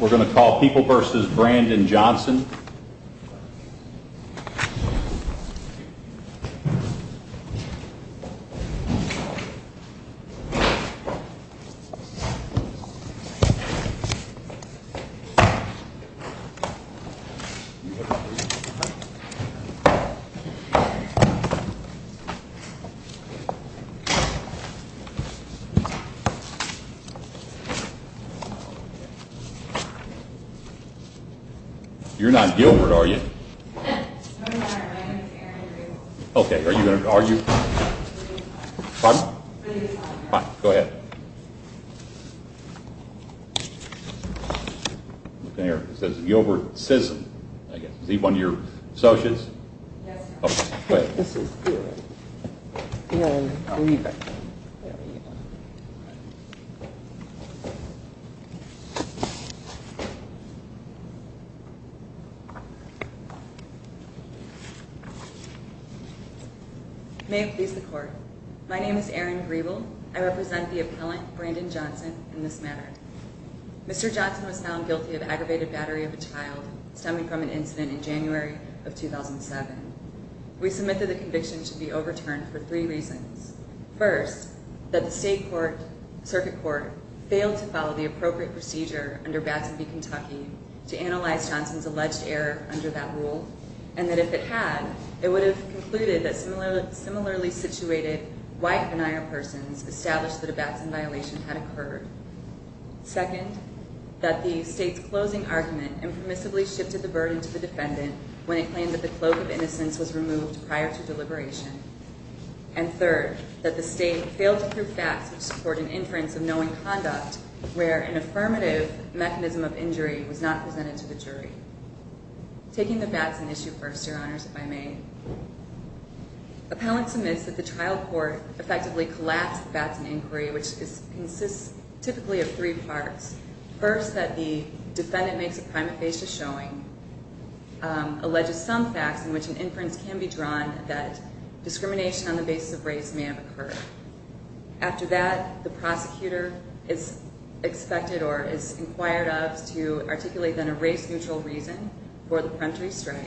We're going to call People v. Brandon Johnson. You're not Gilbert, are you? No, I'm not. My name is Erin. Okay. Are you going to argue? Pardon? Go ahead. There. It says Gilbert Sisson. Is he one of your associates? Yes, sir. Okay. Go ahead. This is good. I believe it. May it please the Court. My name is Erin Grebel. I represent the appellant, Brandon Johnson, in this matter. Mr. Johnson was found guilty of aggravated battery of a child stemming from an incident in January of 2007. We submit that the conviction should be overturned for three reasons. First, that the State Circuit Court failed to follow the appropriate procedure under Batson v. Kentucky to analyze Johnson's alleged error under that rule, and that if it had, it would have concluded that similarly situated white denial persons established that a Batson violation had occurred. Second, that the State's closing argument impermissibly shifted the burden to the defendant when it claimed that the cloak of innocence was removed prior to deliberation. And third, that the State failed to prove facts which support an inference of knowing conduct where an affirmative mechanism of injury was not presented to the jury. Taking the Batson issue first, Your Honors, if I may, appellant submits that the trial court effectively collapsed the Batson inquiry, which consists typically of three parts. First, that the defendant makes a primate basis showing, alleges some facts in which an inference can be drawn that discrimination on the basis of race may have occurred. After that, the prosecutor is expected or is inquired of to articulate then a race-neutral reason for the peremptory strike.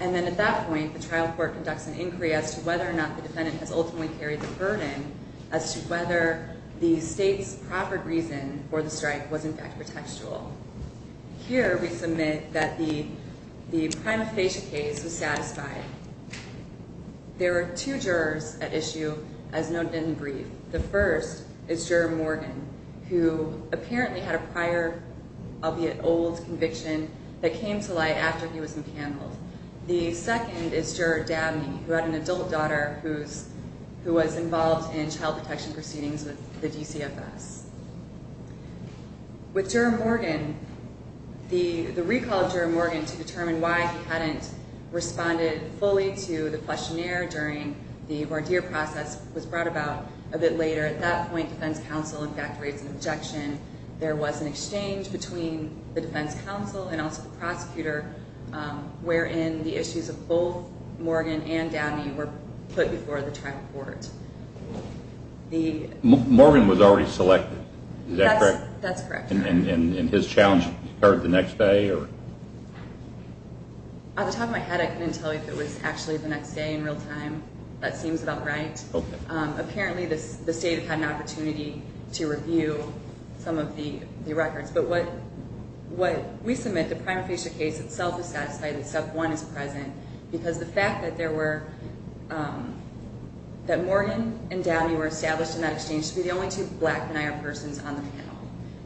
And then at that point, the trial court conducts an inquiry as to whether or not the defendant has ultimately carried the burden as to whether the State's proper reason for the strike was in fact pretextual. Here, we submit that the prima facie case was satisfied. There were two jurors at issue as noted in the brief. The first is Juror Morgan, who apparently had a prior, albeit old, conviction that came to light after he was impaneled. The second is Juror Dabney, who had an adult daughter who was involved in child protection proceedings with the DCFS. With Juror Morgan, the recall of Juror Morgan to determine why he hadn't responded fully to the questionnaire during the voir dire process was brought about a bit later. At that point, defense counsel in fact raised an objection. There was an exchange between the defense counsel and also the prosecutor wherein the issues of both Morgan and Dabney were put before the trial court. Morgan was already selected. Is that correct? That's correct. And his challenge occurred the next day? At the top of my head, I couldn't tell you if it was actually the next day in real time. That seems about right. Apparently, the State had an opportunity to review some of the records. But what we submit, the prima facie case itself is satisfied except one is present because the fact that Morgan and Dabney were established in that exchange to be the only two black venire persons on the panel.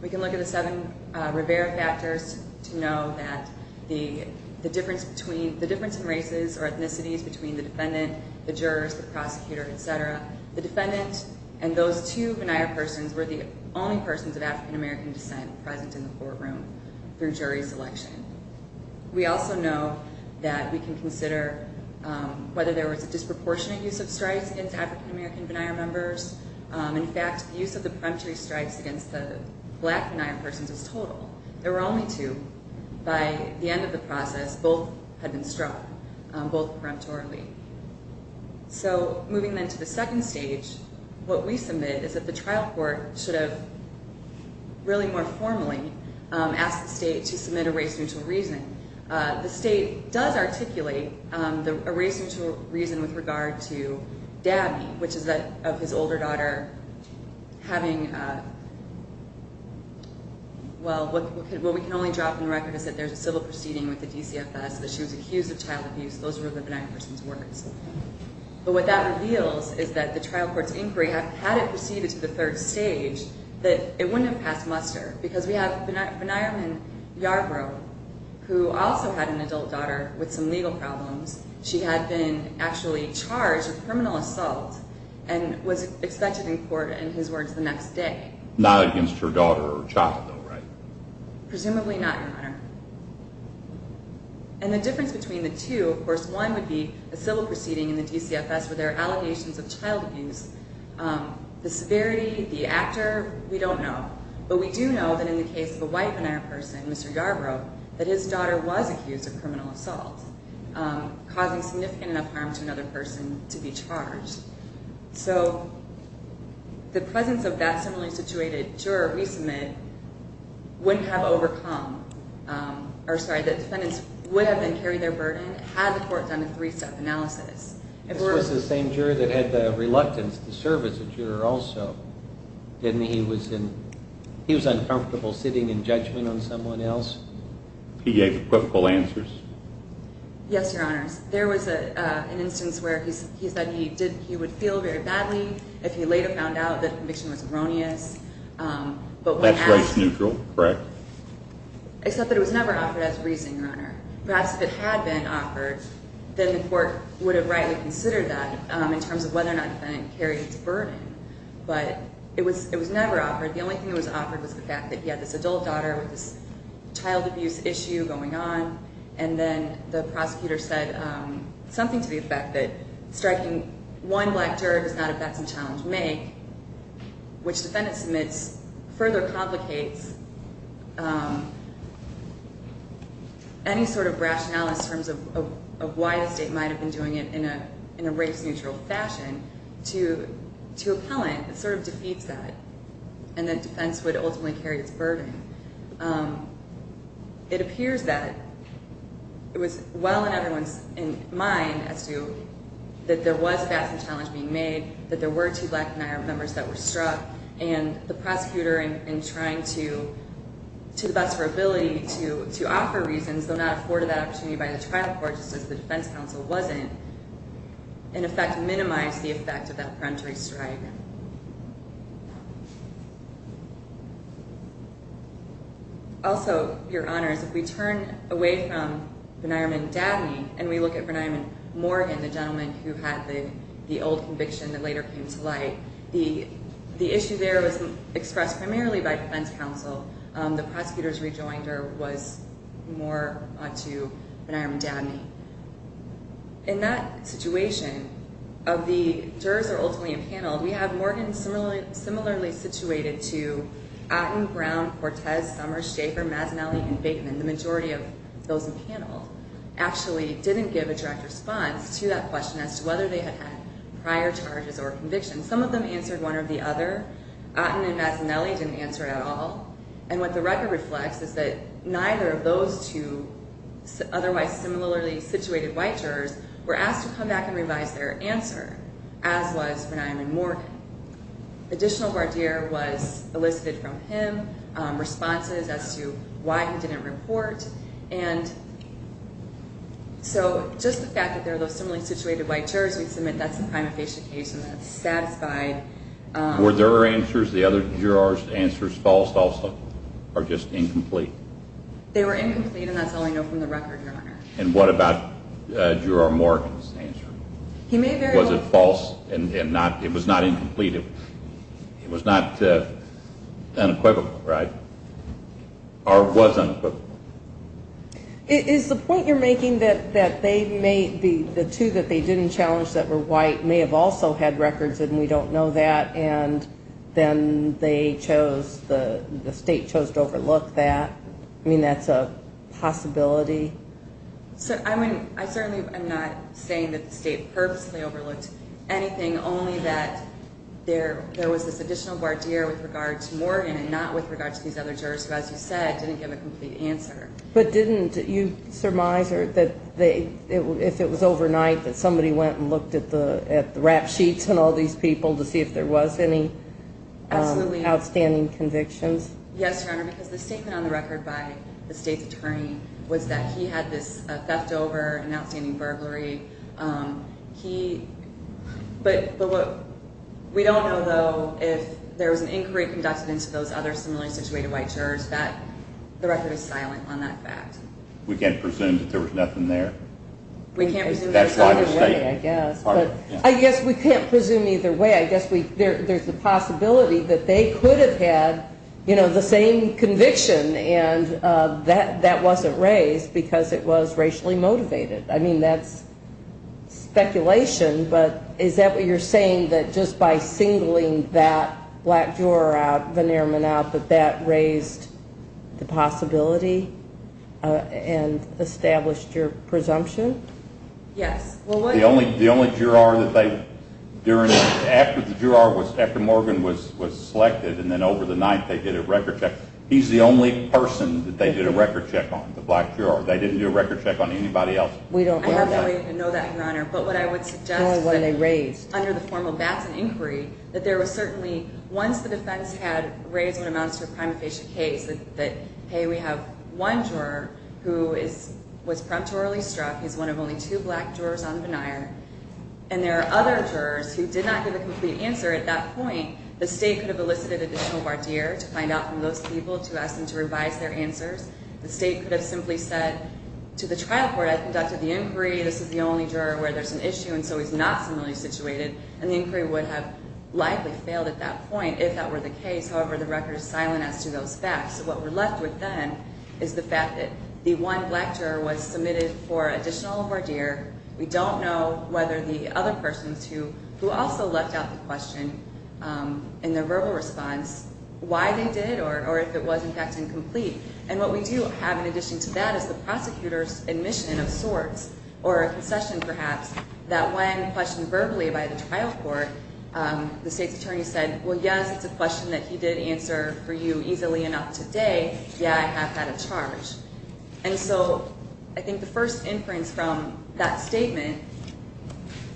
We can look at the seven Rivera factors to know that the difference in races or ethnicities between the defendant, the jurors, the prosecutor, et cetera, the defendant and those two venire persons were the only persons of African-American descent present in the courtroom through jury selection. We also know that we can consider whether there was a disproportionate use of strikes against African-American venire members. In fact, the use of the peremptory strikes against the black venire persons was total. There were only two. By the end of the process, both had been struck, both peremptorily. So moving then to the second stage, what we submit is that the trial court should have really more formally asked the state to submit a race-neutral reason. The state does articulate a race-neutral reason with regard to Dabney, which is that of his older daughter having, well, what we can only drop in the record is that there's a civil proceeding with the DCFS, that she was accused of child abuse. Those were the venire persons' words. But what that reveals is that the trial court's inquiry, had it proceeded to the third stage, that it wouldn't have passed muster because we have venireman Yarbrough, who also had an adult daughter with some legal problems. She had been actually charged with criminal assault and was expected in court in his words the next day. Not against her daughter or child, though, right? Presumably not, Your Honor. And the difference between the two, of course, one would be a civil proceeding in the DCFS where there are allegations of child abuse. The severity, the actor, we don't know. But we do know that in the case of a white venire person, Mr. Yarbrough, that his daughter was accused of criminal assault, causing significant enough harm to another person to be charged. So the presence of that similarly situated juror resubmit wouldn't have overcome or, sorry, the defendants would have then carried their burden had the court done a three-step analysis. This was the same juror that had the reluctance to serve as a juror also, didn't he? He was uncomfortable sitting in judgment on someone else? He gave equivocal answers. Yes, Your Honor. There was an instance where he said he would feel very badly if he later found out the conviction was erroneous. That's rights neutral, correct. Except that it was never offered as reason, Your Honor. Perhaps if it had been offered, then the court would have rightly considered that in terms of whether or not the defendant carried its burden. But it was never offered. The only thing that was offered was the fact that he had this adult daughter with this child abuse issue going on. And then the prosecutor said something to the effect that striking one black juror does not, if that's the challenge, make, which the defendant submits further complicates any sort of rationale in terms of why the state might have been doing it in a race-neutral fashion to appellant. It sort of defeats that. And then defense would ultimately carry its burden. It appears that it was well in everyone's mind as to that there was two black B'nai Armin members that were struck, and the prosecutor, in trying to the best of her ability to offer reasons, though not afforded that opportunity by the trial court, just as the defense counsel wasn't, in effect minimized the effect of that peremptory strike. Also, Your Honors, if we turn away from B'nai Armin Dabney and we look at B'nai Armin Morgan, the gentleman who had the old conviction that later came to light, the issue there was expressed primarily by defense counsel. The prosecutor's rejoinder was more on to B'nai Armin Dabney. In that situation, of the jurors that were ultimately impaneled, we have Morgan similarly situated to Atten, Brown, Cortez, Somers, Schaefer, Mazzanelli, and Bateman. The majority of those impaneled actually didn't give a direct response to that question as to whether they had had prior charges or convictions. Some of them answered one or the other. Atten and Mazzanelli didn't answer at all. And what the record reflects is that neither of those two otherwise similarly situated white jurors were asked to come back and revise their answer, as was B'nai Armin Morgan. Additional guardiere was elicited from him, responses as to why he didn't report. And so just the fact that there are those similarly situated white jurors, we submit that's a prima facie case and that's satisfied. Were their answers, the other jurors' answers, false also or just incomplete? They were incomplete, and that's all I know from the record, Your Honor. And what about Juror Morgan's answer? Was it false and it was not incomplete? It was not unequivocal, right? Or was unequivocal? Is the point you're making that the two that they didn't challenge that were white may have also had records and we don't know that and then the state chose to overlook that? I mean, that's a possibility. I certainly am not saying that the state purposely overlooked anything, only that there was this additional guardiere with regard to Morgan and not with regard to these other jurors who, as you said, didn't give a complete answer. But didn't you surmise that if it was overnight that somebody went and looked at the rap sheets on all these people to see if there was any outstanding convictions? Yes, Your Honor, because the statement on the record by the state's attorney was that he had this theft over and outstanding burglary. But we don't know, though, if there was an inquiry conducted into those other similarly situated white jurors that the record is silent on that fact. We can't presume that there was nothing there? We can't presume either way, I guess. I guess we can't presume either way. I guess there's a possibility that they could have had the same conviction and that wasn't raised because it was racially motivated. I mean, that's speculation, but is that what you're saying, that just by singling that black juror out, Vanierman out, that that raised the possibility and established your presumption? Yes. The only juror that they, during, after the juror was, after Morgan was selected and then over the night they did a record check, he's the only person that they did a record check on, the black juror. They didn't do a record check on anybody else. We don't know that. I have no way to know that, Your Honor. But what I would suggest is that under the formal Batson inquiry, that there was certainly, once the defense had raised what amounts to a prima facie case, that, hey, we have one juror who was preemptorily struck. He's one of only two black jurors on Vanier. And there are other jurors who did not give a complete answer at that point. The state could have elicited additional voir dire to find out from those people to ask them to revise their answers. The state could have simply said to the trial court, I conducted the inquiry. This is the only juror where there's an issue, and so he's not similarly situated. And the inquiry would have likely failed at that point if that were the case. However, the record is silent as to those facts. What we're left with then is the fact that the one black juror was submitted for additional voir dire. We don't know whether the other persons who also left out the question in their verbal response, why they did or if it was, in fact, incomplete. And what we do have in addition to that is the prosecutor's admission of sorts, or a concession perhaps, that when questioned verbally by the trial court, the state's attorney said, well, yes, it's a question that he did answer for you easily enough today. Yeah, I have had a charge. And so I think the first inference from that statement,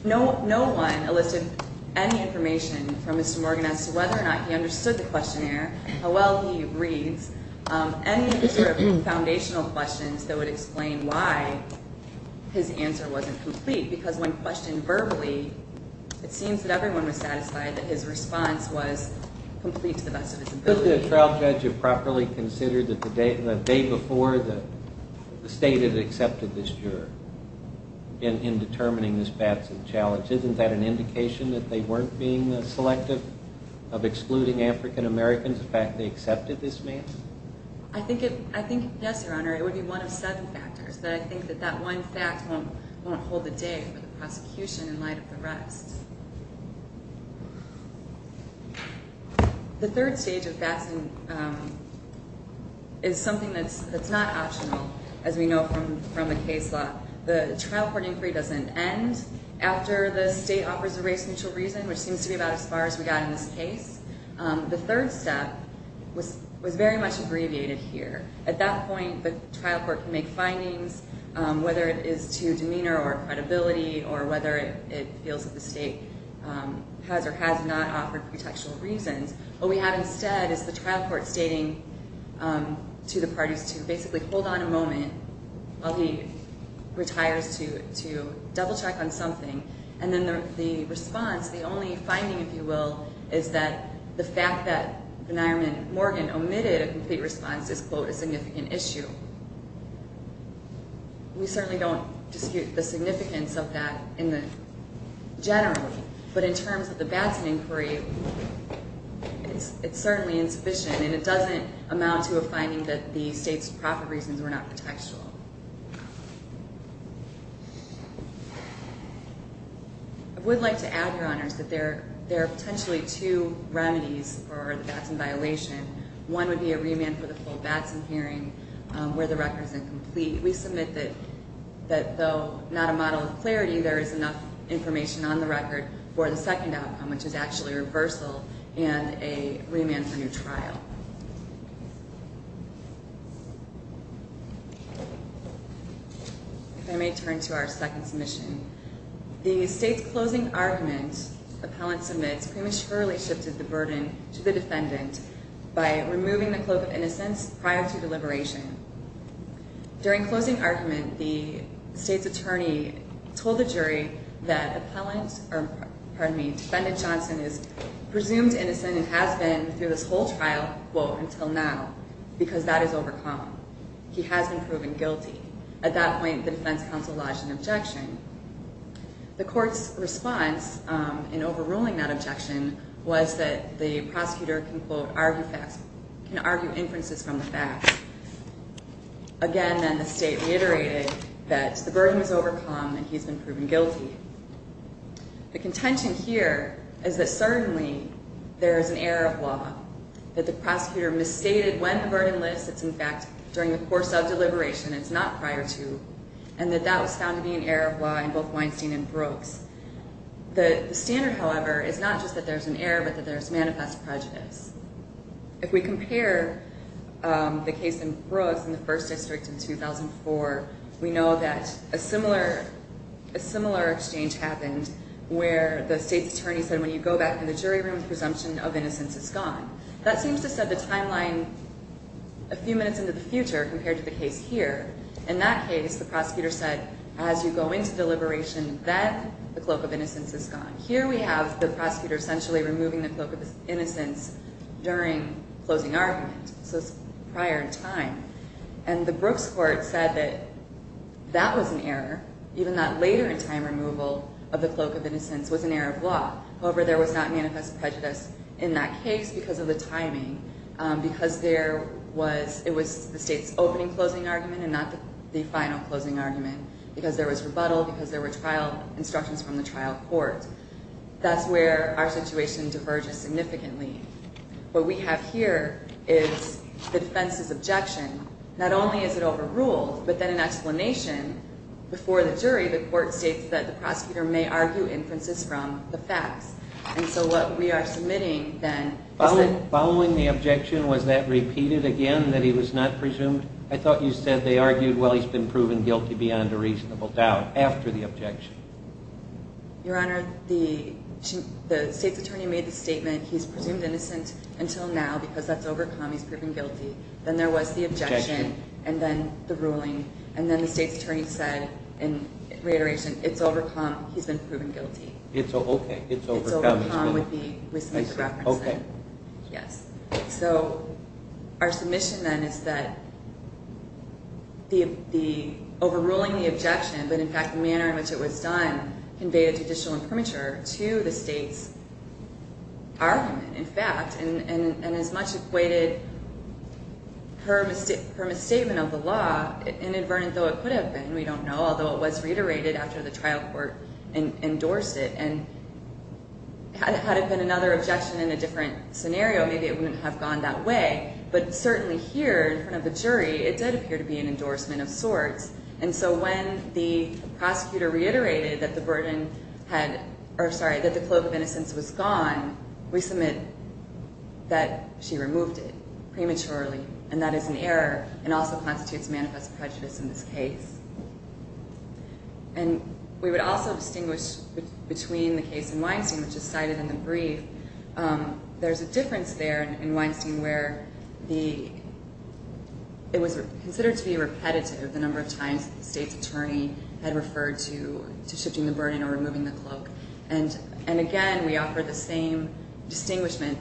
no one elicited any information from Mr. Morgan as to whether or not he understood the questionnaire, how well he reads, any sort of foundational questions that would explain why his answer wasn't complete. Because when questioned verbally, it seems that everyone was satisfied that his response was complete to the best of his ability. Could the trial judge have properly considered that the day before the state had accepted this juror in determining this Batson challenge? Isn't that an indication that they weren't being selective of excluding African-Americans, the fact they accepted this man? I think, yes, Your Honor. It would be one of seven factors. But I think that that one fact won't hold the day for the prosecution in light of the rest. The third stage of Batson is something that's not optional, as we know from the case law. The trial court inquiry doesn't end after the state offers a race-neutral reason, which seems to be about as far as we got in this case. The third step was very much abbreviated here. At that point, the trial court can make findings, whether it is to demeanor or credibility, or whether it feels that the state has or has not offered contextual reasons. What we have instead is the trial court stating to the parties to basically hold on a moment while he retires to double-check on something. And then the response, the only finding, if you will, is that the fact that the Nairman-Morgan omitted a complete response is, quote, a significant issue. We certainly don't dispute the significance of that generally. But in terms of the Batson inquiry, it's certainly insufficient, and it doesn't amount to a finding that the state's proper reasons were not contextual. I would like to add, Your Honors, that there are potentially two remedies for the Batson violation. One would be a remand for the full Batson hearing where the record is incomplete. We submit that though not a model of clarity, there is enough information on the record for the second outcome, which is actually a reversal and a remand for new trial. If I may turn to our second submission. The state's closing argument, appellant submits, prematurely shifted the burden to the defendant by removing the cloak of innocence prior to deliberation. During closing argument, the state's attorney told the jury that defendant Johnson is presumed innocent and has been through this whole trial, quote, until now, because that is overcome. He has been proven guilty. At that point, the defense counsel lodged an objection. The court's response in overruling that objection was that the prosecutor, quote, can argue inferences from the facts. Again, then, the state reiterated that the burden was overcome and he's been proven guilty. The contention here is that certainly there is an error of law, that the prosecutor misstated when the burden lifts. It's, in fact, during the course of deliberation. It's not prior to, and that that was found to be an error of law in both Weinstein and Brooks. The standard, however, is not just that there's an error, but that there's manifest prejudice. If we compare the case in Brooks in the first district in 2004, we know that a similar exchange happened where the state's attorney said, when you go back in the jury room, the presumption of innocence is gone. That seems to set the timeline a few minutes into the future compared to the case here. In that case, the prosecutor said, as you go into deliberation, then the cloak of innocence is gone. Here we have the prosecutor essentially removing the cloak of innocence during closing argument. So it's prior in time. And the Brooks court said that that was an error, even that later in time removal of the cloak of innocence was an error of law. However, there was not manifest prejudice in that case because of the timing, because it was the state's opening closing argument and not the final closing argument, because there was rebuttal, because there were trial instructions from the trial court. That's where our situation diverges significantly. What we have here is the defense's objection. Not only is it overruled, but then an explanation before the jury, the court states that the prosecutor may argue inferences from the facts. And so what we are submitting then is that... Following the objection, was that repeated again, that he was not presumed? I thought you said they argued, well, he's been proven guilty beyond a reasonable doubt after the objection. Your Honor, the state's attorney made the statement, he's presumed innocent until now because that's overcome, he's proven guilty. Then there was the objection and then the ruling. And then the state's attorney said, in reiteration, it's overcome, he's been proven guilty. It's okay, it's overcome. It's overcome with the reference. Okay. Yes. So our submission then is that the overruling the objection, but in fact the manner in which it was done, conveyed a judicial imprimatur to the state's argument, in fact, and as much equated her misstatement of the law, inadvertent though it could have been, we don't know, although it was reiterated after the trial court endorsed it. And had it been another objection in a different scenario, maybe it wouldn't have gone that way. But certainly here in front of the jury, it did appear to be an endorsement of sorts. And so when the prosecutor reiterated that the burden had, or sorry, that the cloak of innocence was gone, we submit that she removed it prematurely and that is an error and also constitutes manifest prejudice in this case. And we would also distinguish between the case in Weinstein, which is cited in the brief. There's a difference there in Weinstein where it was considered to be repetitive the number of times that the state's attorney had referred to shifting the burden or removing the cloak. And again, we offer the same distinguishment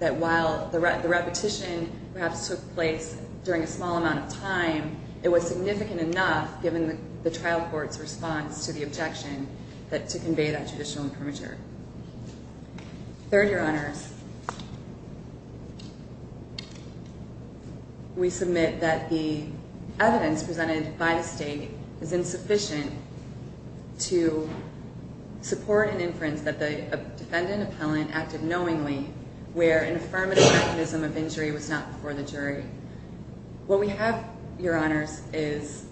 that while the repetition perhaps took place during a small amount of time, it was significant enough given the trial court's response to the objection to convey that judicial imprimatur. Third, Your Honors, we submit that the evidence presented by the state is insufficient to support an inference that the defendant appellant acted knowingly where an affirmative mechanism of injury was not before the jury. What we have, Your Honors, is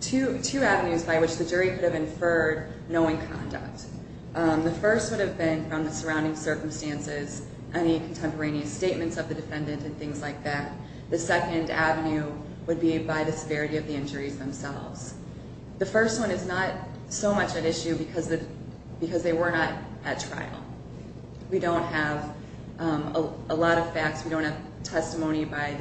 two avenues by which the jury could have inferred knowing conduct. The first would have been from the surrounding circumstances, any contemporaneous statements of the defendant and things like that. The second avenue would be by the severity of the injuries themselves. The first one is not so much at issue because they were not at trial. We don't have a lot of facts. We don't have testimony by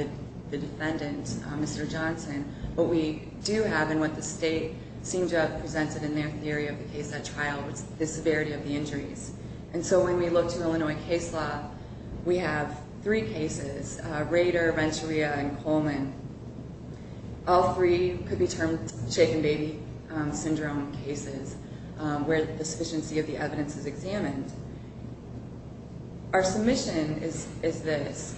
the defendant, Mr. Johnson. What we do have and what the state seemed to have presented in their theory of the case at trial was the severity of the injuries. And so when we look to Illinois case law, we have three cases, Rader, Renteria, and Coleman. All three could be termed shaken baby syndrome cases where the sufficiency of the evidence is examined. Our submission is this,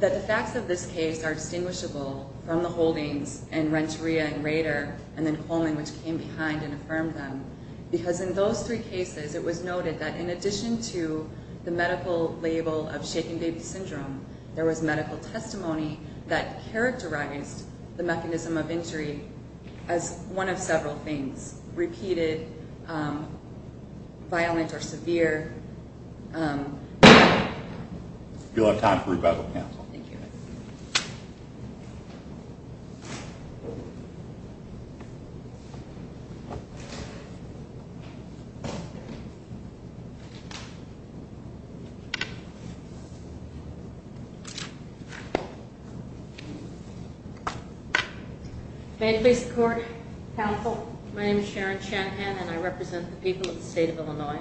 that the facts of this case are distinguishable from the holdings in Renteria and Rader and then Coleman which came behind and affirmed them because in those three cases it was noted that in addition to the medical label of shaken baby syndrome, there was medical testimony that characterized the mechanism of injury as one of several things, repeated, violent or severe. You'll have time for rebuttal, counsel. Thank you. Thank you. May it please the court. Counsel. My name is Sharon Shanahan and I represent the people of the state of Illinois.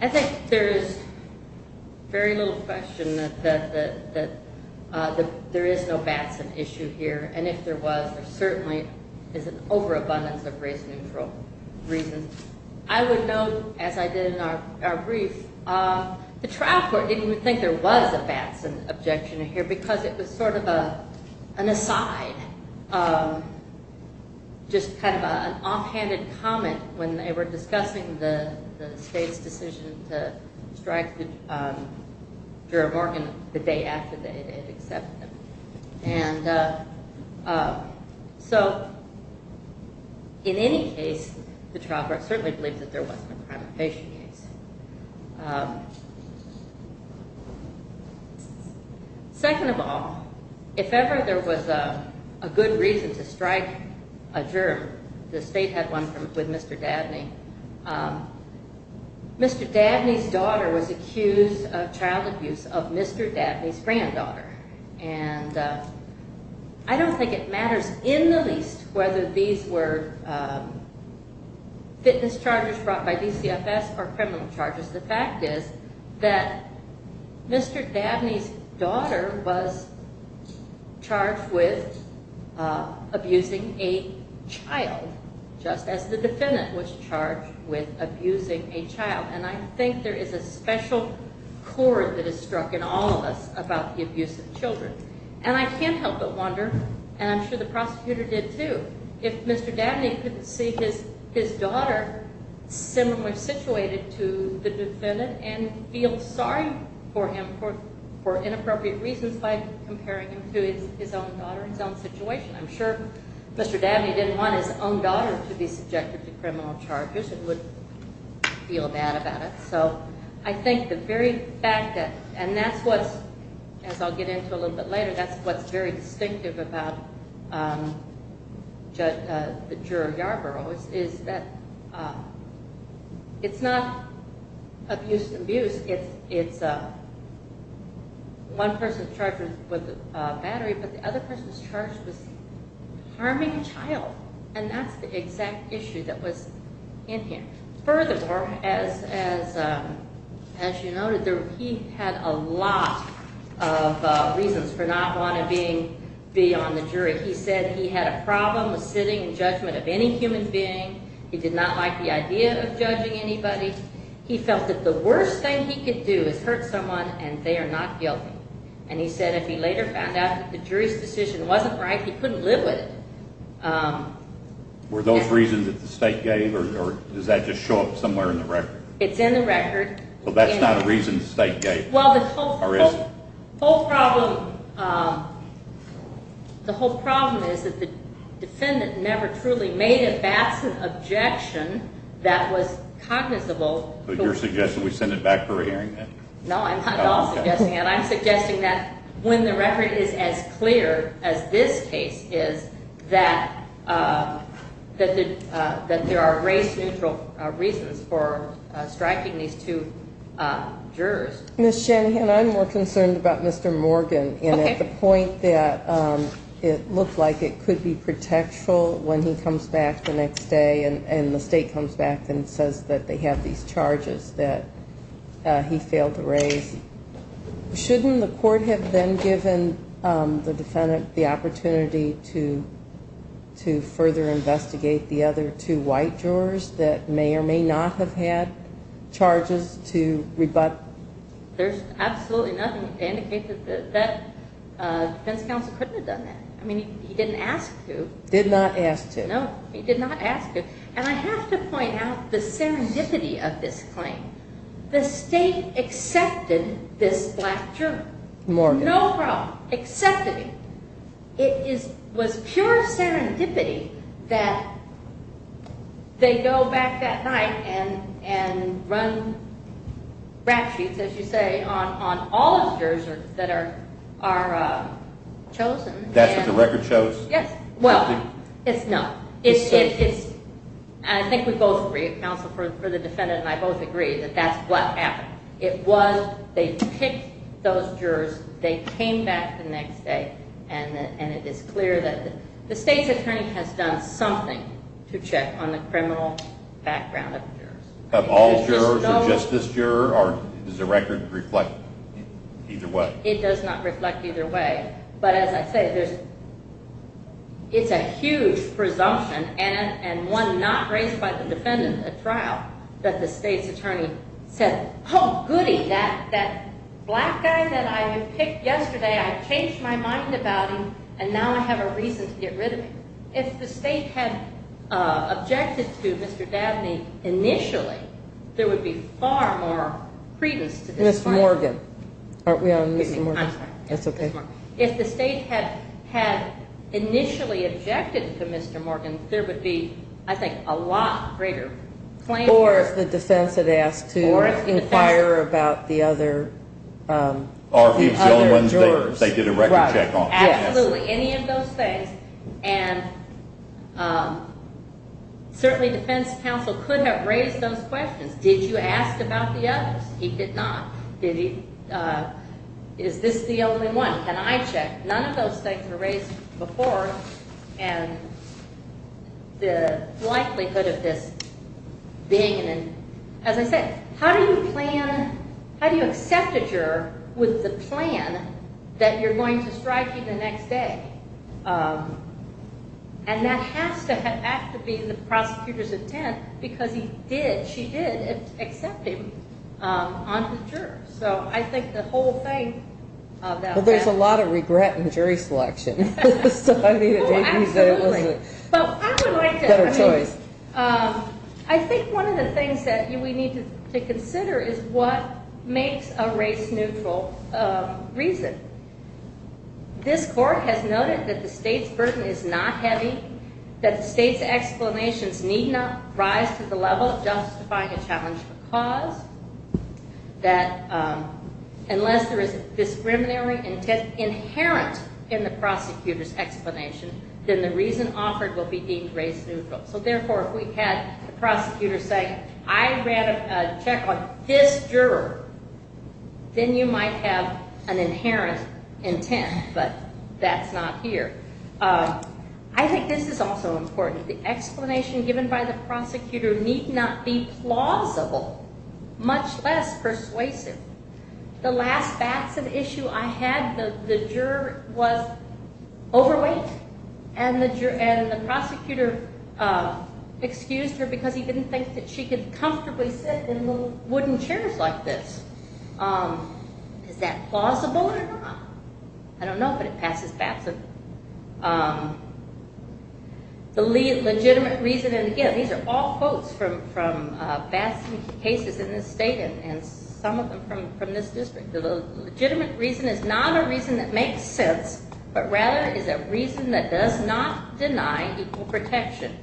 I think there is very little question that there is no Batson issue here. And if there was, there certainly is an overabundance of race-neutral reasons. I would note, as I did in our brief, the trial court didn't even think there was a Batson objection here because it was sort of an aside, just kind of an offhanded comment when they were discussing the state's decision to strike Jura Morgan the day after they had accepted. And so in any case, the trial court certainly believed that there wasn't a crime of patient case. Second of all, if ever there was a good reason to strike a juror, the state had one with Mr. Dabney. Mr. Dabney's daughter was accused of child abuse of Mr. Dabney's granddaughter. And I don't think it matters in the least whether these were fitness charges brought by DCFS or criminal charges. The fact is that Mr. Dabney's daughter was charged with abusing a child, just as the defendant was charged with abusing a child. And I think there is a special chord that is struck in all of us about the abuse of children. And I can't help but wonder, and I'm sure the prosecutor did too, if Mr. Dabney couldn't see his daughter similarly situated to the defendant and feel sorry for him for inappropriate reasons by comparing him to his own daughter, his own situation. I'm sure Mr. Dabney didn't want his own daughter to be subjected to criminal charges and would feel bad about it. So I think the very fact that, and that's what's, as I'll get into a little bit later, that's what's very distinctive about the juror Yarborough is that it's not abuse to abuse. It's one person charged with battery, but the other person's charge was harming a child. And that's the exact issue that was in here. Furthermore, as you noted, he had a lot of reasons for not wanting to be on the jury. He said he had a problem with sitting in judgment of any human being. He did not like the idea of judging anybody. He felt that the worst thing he could do is hurt someone, and they are not guilty. And he said if he later found out that the jury's decision wasn't right, he couldn't live with it. Were those reasons that the state gave, or does that just show up somewhere in the record? It's in the record. Well, that's not a reason the state gave, or is it? The whole problem is that the defendant never truly made a Batson objection that was cognizable. But you're suggesting we send it back for a hearing, then? No, I'm not at all suggesting that. I'm suggesting that when the record is as clear as this case is, that there are race-neutral reasons for striking these two jurors. Ms. Shanahan, I'm more concerned about Mr. Morgan, and at the point that it looked like it could be protectful when he comes back the next day and the state comes back and says that they have these charges that he failed to raise. Shouldn't the court have then given the defendant the opportunity to further investigate the other two white jurors that may or may not have had charges to rebut? There's absolutely nothing to indicate that the defense counsel couldn't have done that. I mean, he didn't ask to. Did not ask to. No, he did not ask to. And I have to point out the serendipity of this claim. The state accepted this black juror. Morgan. No problem. Accepted him. It was pure serendipity that they go back that night and run rap sheets, as you say, on all of the jurors that are chosen. That's what the record shows? Yes. Well, it's no. I think we both agree, counsel for the defendant and I both agree, that that's what happened. It was they picked those jurors, they came back the next day, and it is clear that the state's attorney has done something to check on the criminal background of the jurors. Of all jurors or just this juror or does the record reflect either way? It does not reflect either way. But as I say, it's a huge presumption and one not raised by the defendant at trial that the state's attorney said, oh, goody, that black guy that I picked yesterday, I changed my mind about him and now I have a reason to get rid of him. If the state had objected to Mr. Dabney initially, there would be far more credence to this claim. Ms. Morgan. Aren't we on Ms. Morgan? I'm sorry. That's okay. If the state had initially objected to Mr. Morgan, there would be, I think, a lot greater claim. Or if the defense had asked to inquire about the other jurors. Absolutely, any of those things. And certainly defense counsel could have raised those questions. Did you ask about the others? He did not. Is this the only one? Can I check? None of those things were raised before. And the likelihood of this being an, as I said, how do you plan, how do you accept a juror with the plan that you're going to strike him the next day? And that has to be the prosecutor's intent because he did, she did accept him on the juror. So I think the whole thing about that. Well, there's a lot of regret in jury selection. Oh, absolutely. I would like to. Better choice. I think one of the things that we need to consider is what makes a race neutral reason. This court has noted that the state's burden is not heavy, that the state's explanations need not rise to the level of justifying a challenge for cause, that unless there is discriminatory intent inherent in the prosecutor's explanation, then the reason offered will be deemed race neutral. So, therefore, if we had a prosecutor say, I ran a check on this juror, then you might have an inherent intent, but that's not here. I think this is also important. The explanation given by the prosecutor need not be plausible, much less persuasive. The last bats of issue I had, the juror was overweight, and the prosecutor excused her because he didn't think that she could comfortably sit in little wooden chairs like this. Is that plausible or not? I don't know, but it passes Batson. The legitimate reason, and again, these are all quotes from Batson cases in this state, and some of them from this district. The legitimate reason is not a reason that makes sense, but rather is a reason that does not deny equal protection.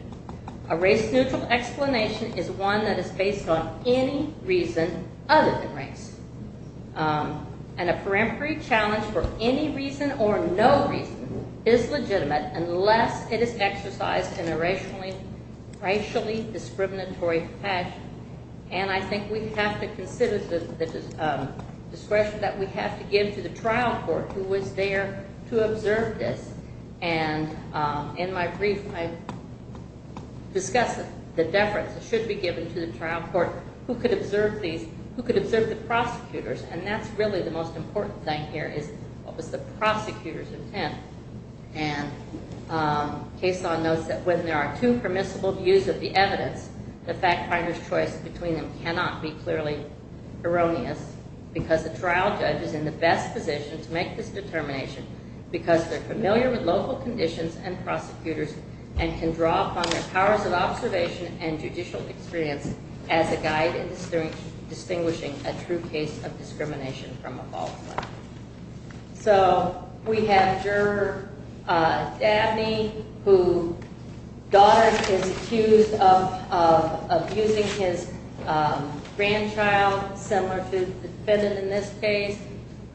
A race-neutral explanation is one that is based on any reason other than race. And a peremptory challenge for any reason or no reason is legitimate unless it is exercised in a racially discriminatory fashion. And I think we have to consider the discretion that we have to give to the trial court who was there to observe this. And in my brief, I discuss the deference that should be given to the trial court. Who could observe these? Who could observe the prosecutors? And that's really the most important thing here is what was the prosecutor's intent. And Cason notes that when there are two permissible views of the evidence, the fact finder's choice between them cannot be clearly erroneous because the trial judge is in the best position to make this determination because they're familiar with local conditions and prosecutors and can draw upon their powers of observation and judicial experience as a guide in distinguishing a true case of discrimination from a false one. So we have Juror Dabney, whose daughter is accused of abusing his grandchild, similar to the defendant in this case,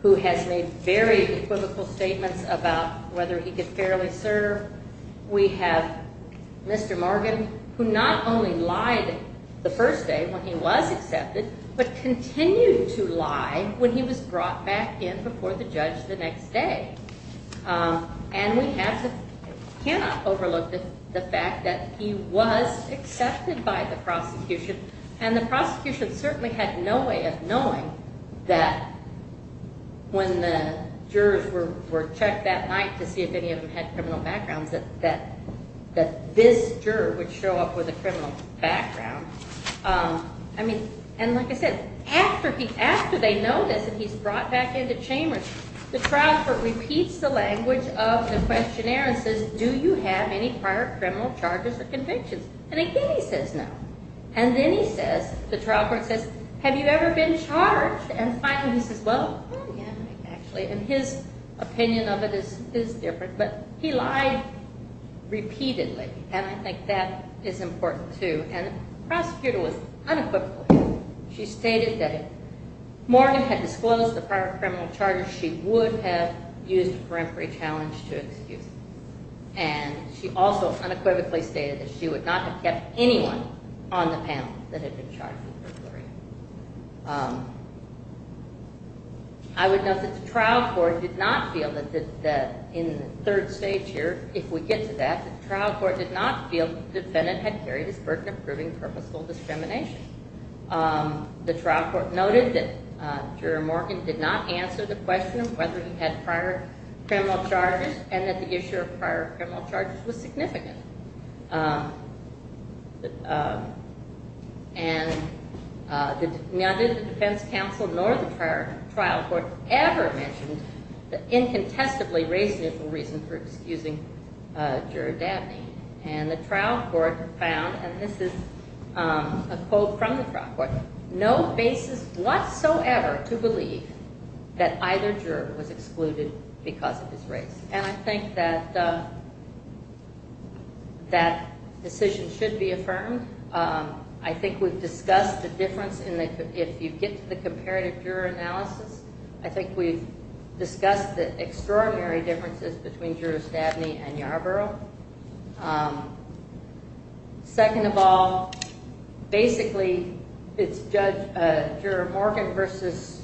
who has made very equivocal statements about whether he could fairly serve. We have Mr. Morgan, who not only lied the first day when he was accepted, but continued to lie when he was brought back in before the judge the next day. And we cannot overlook the fact that he was accepted by the prosecution, and the prosecution certainly had no way of knowing that when the jurors were checked that night to see if any of them had criminal backgrounds that this juror would show up with a criminal background. And like I said, after they know this and he's brought back into chambers, the trial court repeats the language of the questionnaire and says, do you have any prior criminal charges or convictions? And again he says no. And then he says, the trial court says, have you ever been charged? And finally he says, well, I haven't actually. And his opinion of it is different. But he lied repeatedly, and I think that is important too. And the prosecutor was unequivocal. She stated that if Morgan had disclosed the prior criminal charges, she would have used a peremptory challenge to excuse him. And she also unequivocally stated that she would not have kept anyone on the panel that had been charged with burglary. I would note that the trial court did not feel that in the third stage here, if we get to that, the trial court did not feel the defendant had carried his burden of proving purposeful discrimination. The trial court noted that Juror Morgan did not answer the question of whether he had prior criminal charges and that the issue of prior criminal charges was significant. And neither the defense counsel nor the trial court ever mentioned the incontestably reasonable reason for excusing Juror Dabney. And the trial court found, and this is a quote from the trial court, no basis whatsoever to believe that either juror was excluded because of his race. And I think that that decision should be affirmed. I think we've discussed the difference if you get to the comparative juror analysis. I think we've discussed the extraordinary differences between Jurors Dabney and Yarbrough. Second of all, basically it's Juror Morgan versus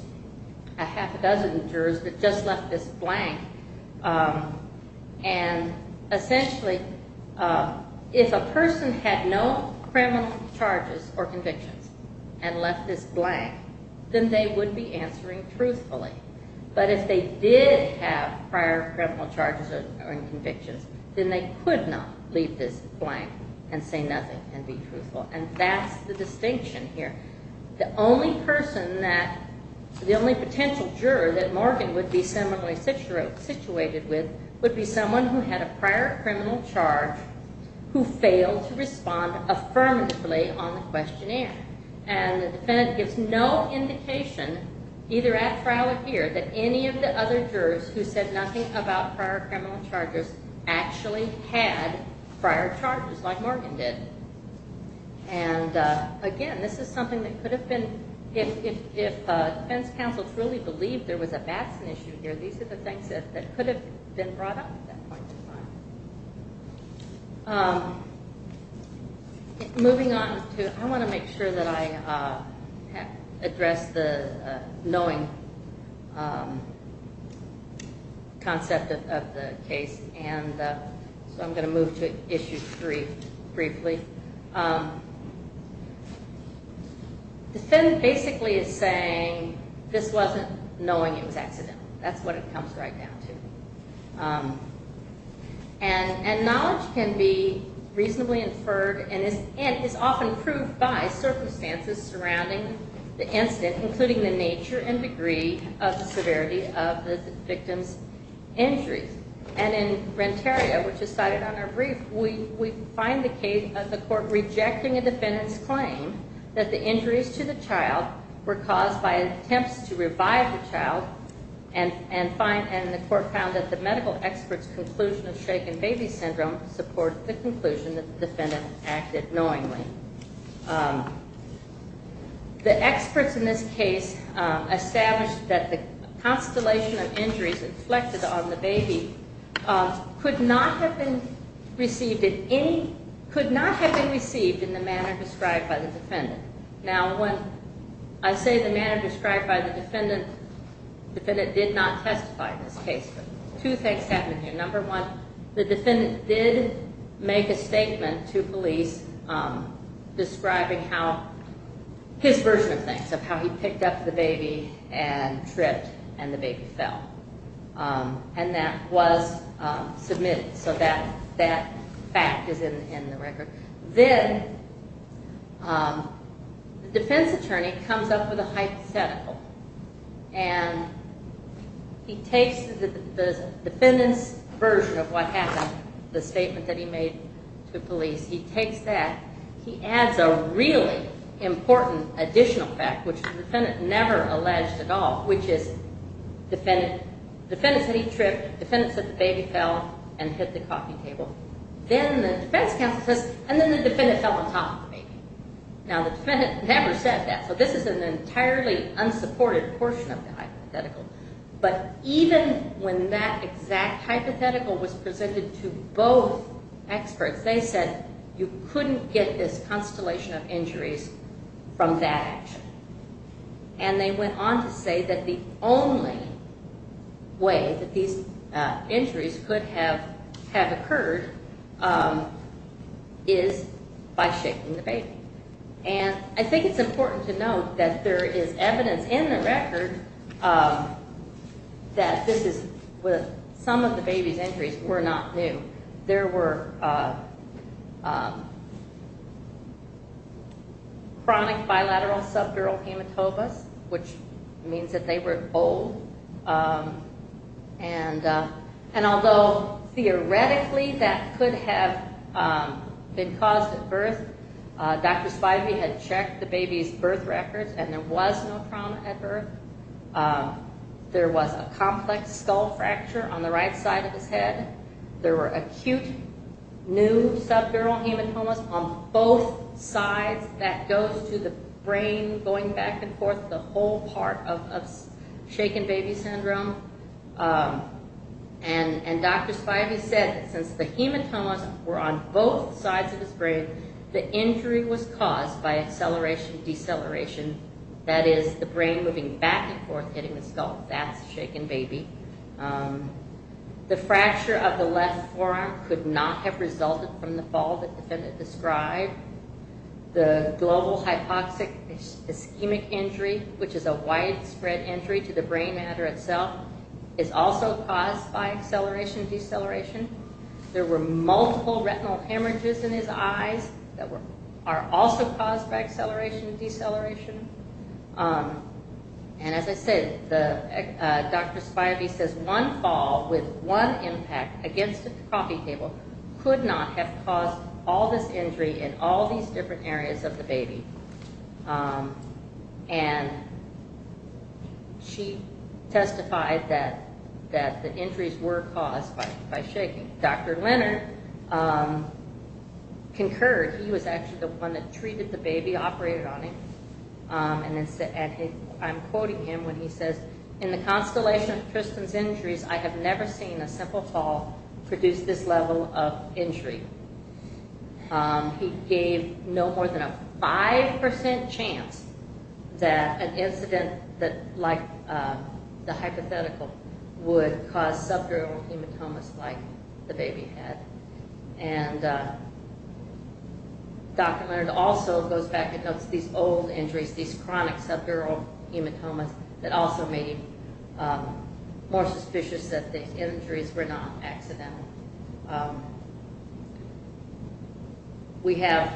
a half a dozen jurors that just left this blank. And essentially, if a person had no criminal charges or convictions and left this blank, then they would be answering truthfully. But if they did have prior criminal charges or convictions, then they could not leave this blank and say nothing and be truthful. And that's the distinction here. The only person that, the only potential juror that Morgan would be similarly situated with, would be someone who had a prior criminal charge who failed to respond affirmatively on the questionnaire. And the defendant gives no indication, either at trial or here, that any of the other jurors who said nothing about prior criminal charges actually had prior charges like Morgan did. And again, this is something that could have been, if defense counsel truly believed there was a Batson issue here, these are the things that could have been brought up at that point in time. Moving on to, I want to make sure that I address the knowing concept of the case, and so I'm going to move to Issue 3 briefly. The defendant basically is saying this wasn't knowing it was accidental. That's what it comes right down to. And knowledge can be reasonably inferred and is often proved by circumstances surrounding the incident, including the nature and degree of the severity of the victim's injuries. And in Renteria, which is cited on our brief, we find the case of the court rejecting a defendant's claim that the injuries to the child were caused by attempts to revive the child, and the court found that the medical expert's conclusion of shaken baby syndrome supports the conclusion that the defendant acted knowingly. The experts in this case established that the constellation of injuries inflected on the baby could not have been received in the manner described by the defendant. Now, when I say the manner described by the defendant, the defendant did not testify in this case, but two things happened here. Number one, the defendant did make a statement to police describing his version of things, of how he picked up the baby and tripped and the baby fell. And that was submitted, so that fact is in the record. Then the defense attorney comes up with a hypothetical, and he takes the defendant's version of what happened, the statement that he made to police, he takes that, he adds a really important additional fact, which the defendant never alleged at all, which is the defendant said he tripped, the defendant said the baby fell and hit the coffee table. Then the defense counsel says, and then the defendant fell on top of the baby. Now, the defendant never said that, so this is an entirely unsupported portion of the hypothetical. But even when that exact hypothetical was presented to both experts, they said you couldn't get this constellation of injuries from that action. And they went on to say that the only way that these injuries could have occurred is by shaking the baby. And I think it's important to note that there is evidence in the record that this is, that some of the baby's injuries were not new. There were chronic bilateral subdural hematomas, which means that they were old. And although theoretically that could have been caused at birth, Dr. Spivey had checked the baby's birth records and there was no trauma at birth. There was a complex skull fracture on the right side of his head. There were acute new subdural hematomas on both sides. That goes to the brain going back and forth, the whole part of shaken baby syndrome. And Dr. Spivey said that since the hematomas were on both sides of his brain, the injury was caused by acceleration-deceleration. That is, the brain moving back and forth, hitting the skull. That's shaken baby. The fracture of the left forearm could not have resulted from the fall that the defendant described. The global hypoxic ischemic injury, which is a widespread injury to the brain matter itself, is also caused by acceleration-deceleration. There were multiple retinal hemorrhages in his eyes that are also caused by acceleration-deceleration. And as I said, Dr. Spivey says one fall with one impact against a coffee table could not have caused all this injury in all these different areas of the baby. And she testified that the injuries were caused by shaking. Dr. Leonard concurred. He was actually the one that treated the baby, operated on him. And I'm quoting him when he says, in the constellation of Tristan's injuries, I have never seen a simple fall produce this level of injury. He gave no more than a 5% chance that an incident like the hypothetical would cause subdural hematomas like the baby had. And Dr. Leonard also goes back and notes these old injuries, these chronic subdural hematomas that also made him more suspicious that the injuries were not accidental. We have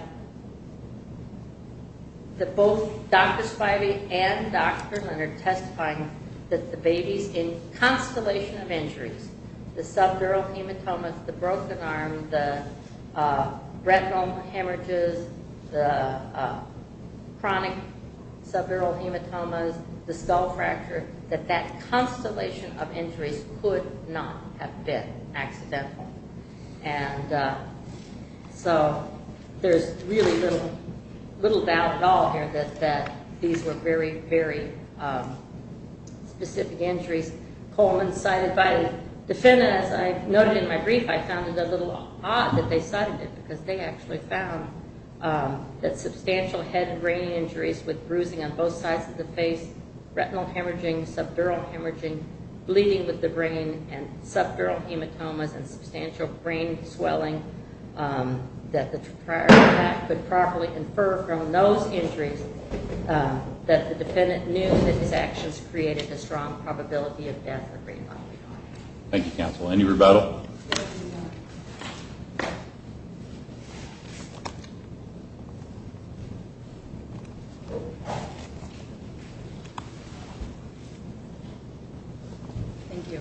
both Dr. Spivey and Dr. Leonard testifying that the babies in constellation of injuries, the subdural hematomas, the broken arm, the retinal hemorrhages, the chronic subdural hematomas, the skull fracture, that that constellation of injuries could not have been accidental. And so there's really little doubt at all here that these were very, very specific injuries. Coleman cited by the defendant, as I noted in my brief, I found it a little odd that they cited it because they actually found that substantial head and brain injuries with bruising on both sides of the face, retinal hemorrhaging, subdural hemorrhaging, bleeding with the brain, and subdural hematomas and substantial brain swelling that the prior attack could properly infer from those injuries that the defendant knew that his actions created a strong probability of death or brain loss. Thank you, counsel. Any rebuttal? Thank you.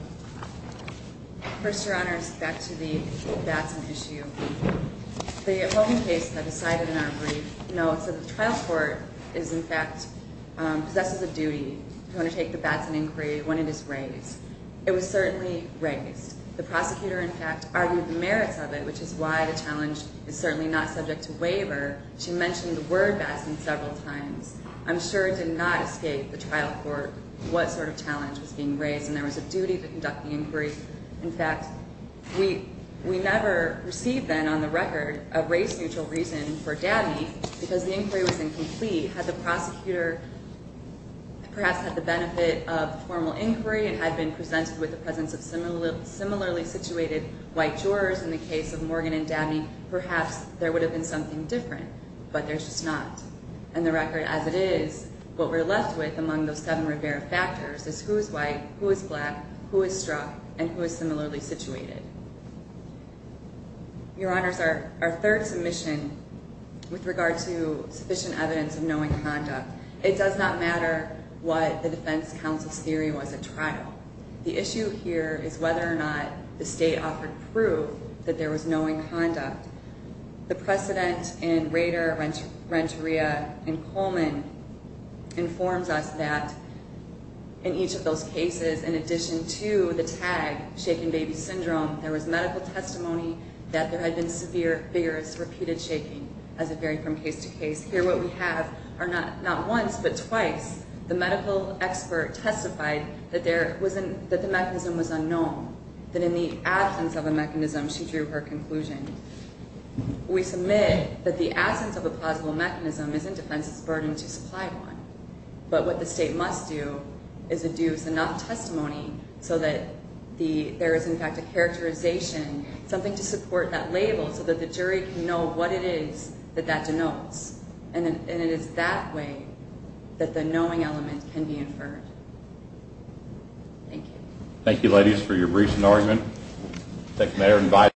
First, Your Honors, back to the Batson issue. The Coleman case that was cited in our brief notes that the trial court is, in fact, possesses a duty to undertake the Batson inquiry when it is raised. It was certainly raised. The prosecutor, in fact, argued the merits of it, which is why the challenge is certainly not subject to waiver. She mentioned the word Batson several times. I'm sure it did not escape the trial court what sort of challenge was being raised, and there was a duty to conduct the inquiry. In fact, we never received then on the record a race-neutral reason for Dabney because the inquiry was incomplete. Had the prosecutor perhaps had the benefit of formal inquiry and had been presented with the presence of similarly situated white jurors in the case of Morgan and Dabney, perhaps there would have been something different, but there's just not. And the record as it is, what we're left with among those seven Rivera factors is who is white, who is black, who is struck, and who is similarly situated. Your Honors, our third submission with regard to sufficient evidence of knowing conduct, it does not matter what the defense counsel's theory was at trial. The issue here is whether or not the state offered proof that there was knowing conduct. The precedent in Rader, Renteria, and Coleman informs us that in each of those cases, in addition to the tag, shaken baby syndrome, there was medical testimony that there had been severe, vigorous, repeated shaking as it varied from case to case. Here what we have are not once but twice the medical expert testified that the mechanism was unknown, that in the absence of a mechanism, she drew her conclusion. We submit that the absence of a plausible mechanism is in defense's burden to supply one. But what the state must do is induce enough testimony so that there is in fact a characterization, something to support that label so that the jury can know what it is that that denotes. And it is that way that the knowing element can be inferred. Thank you. Thank you, ladies, for your briefs and argument.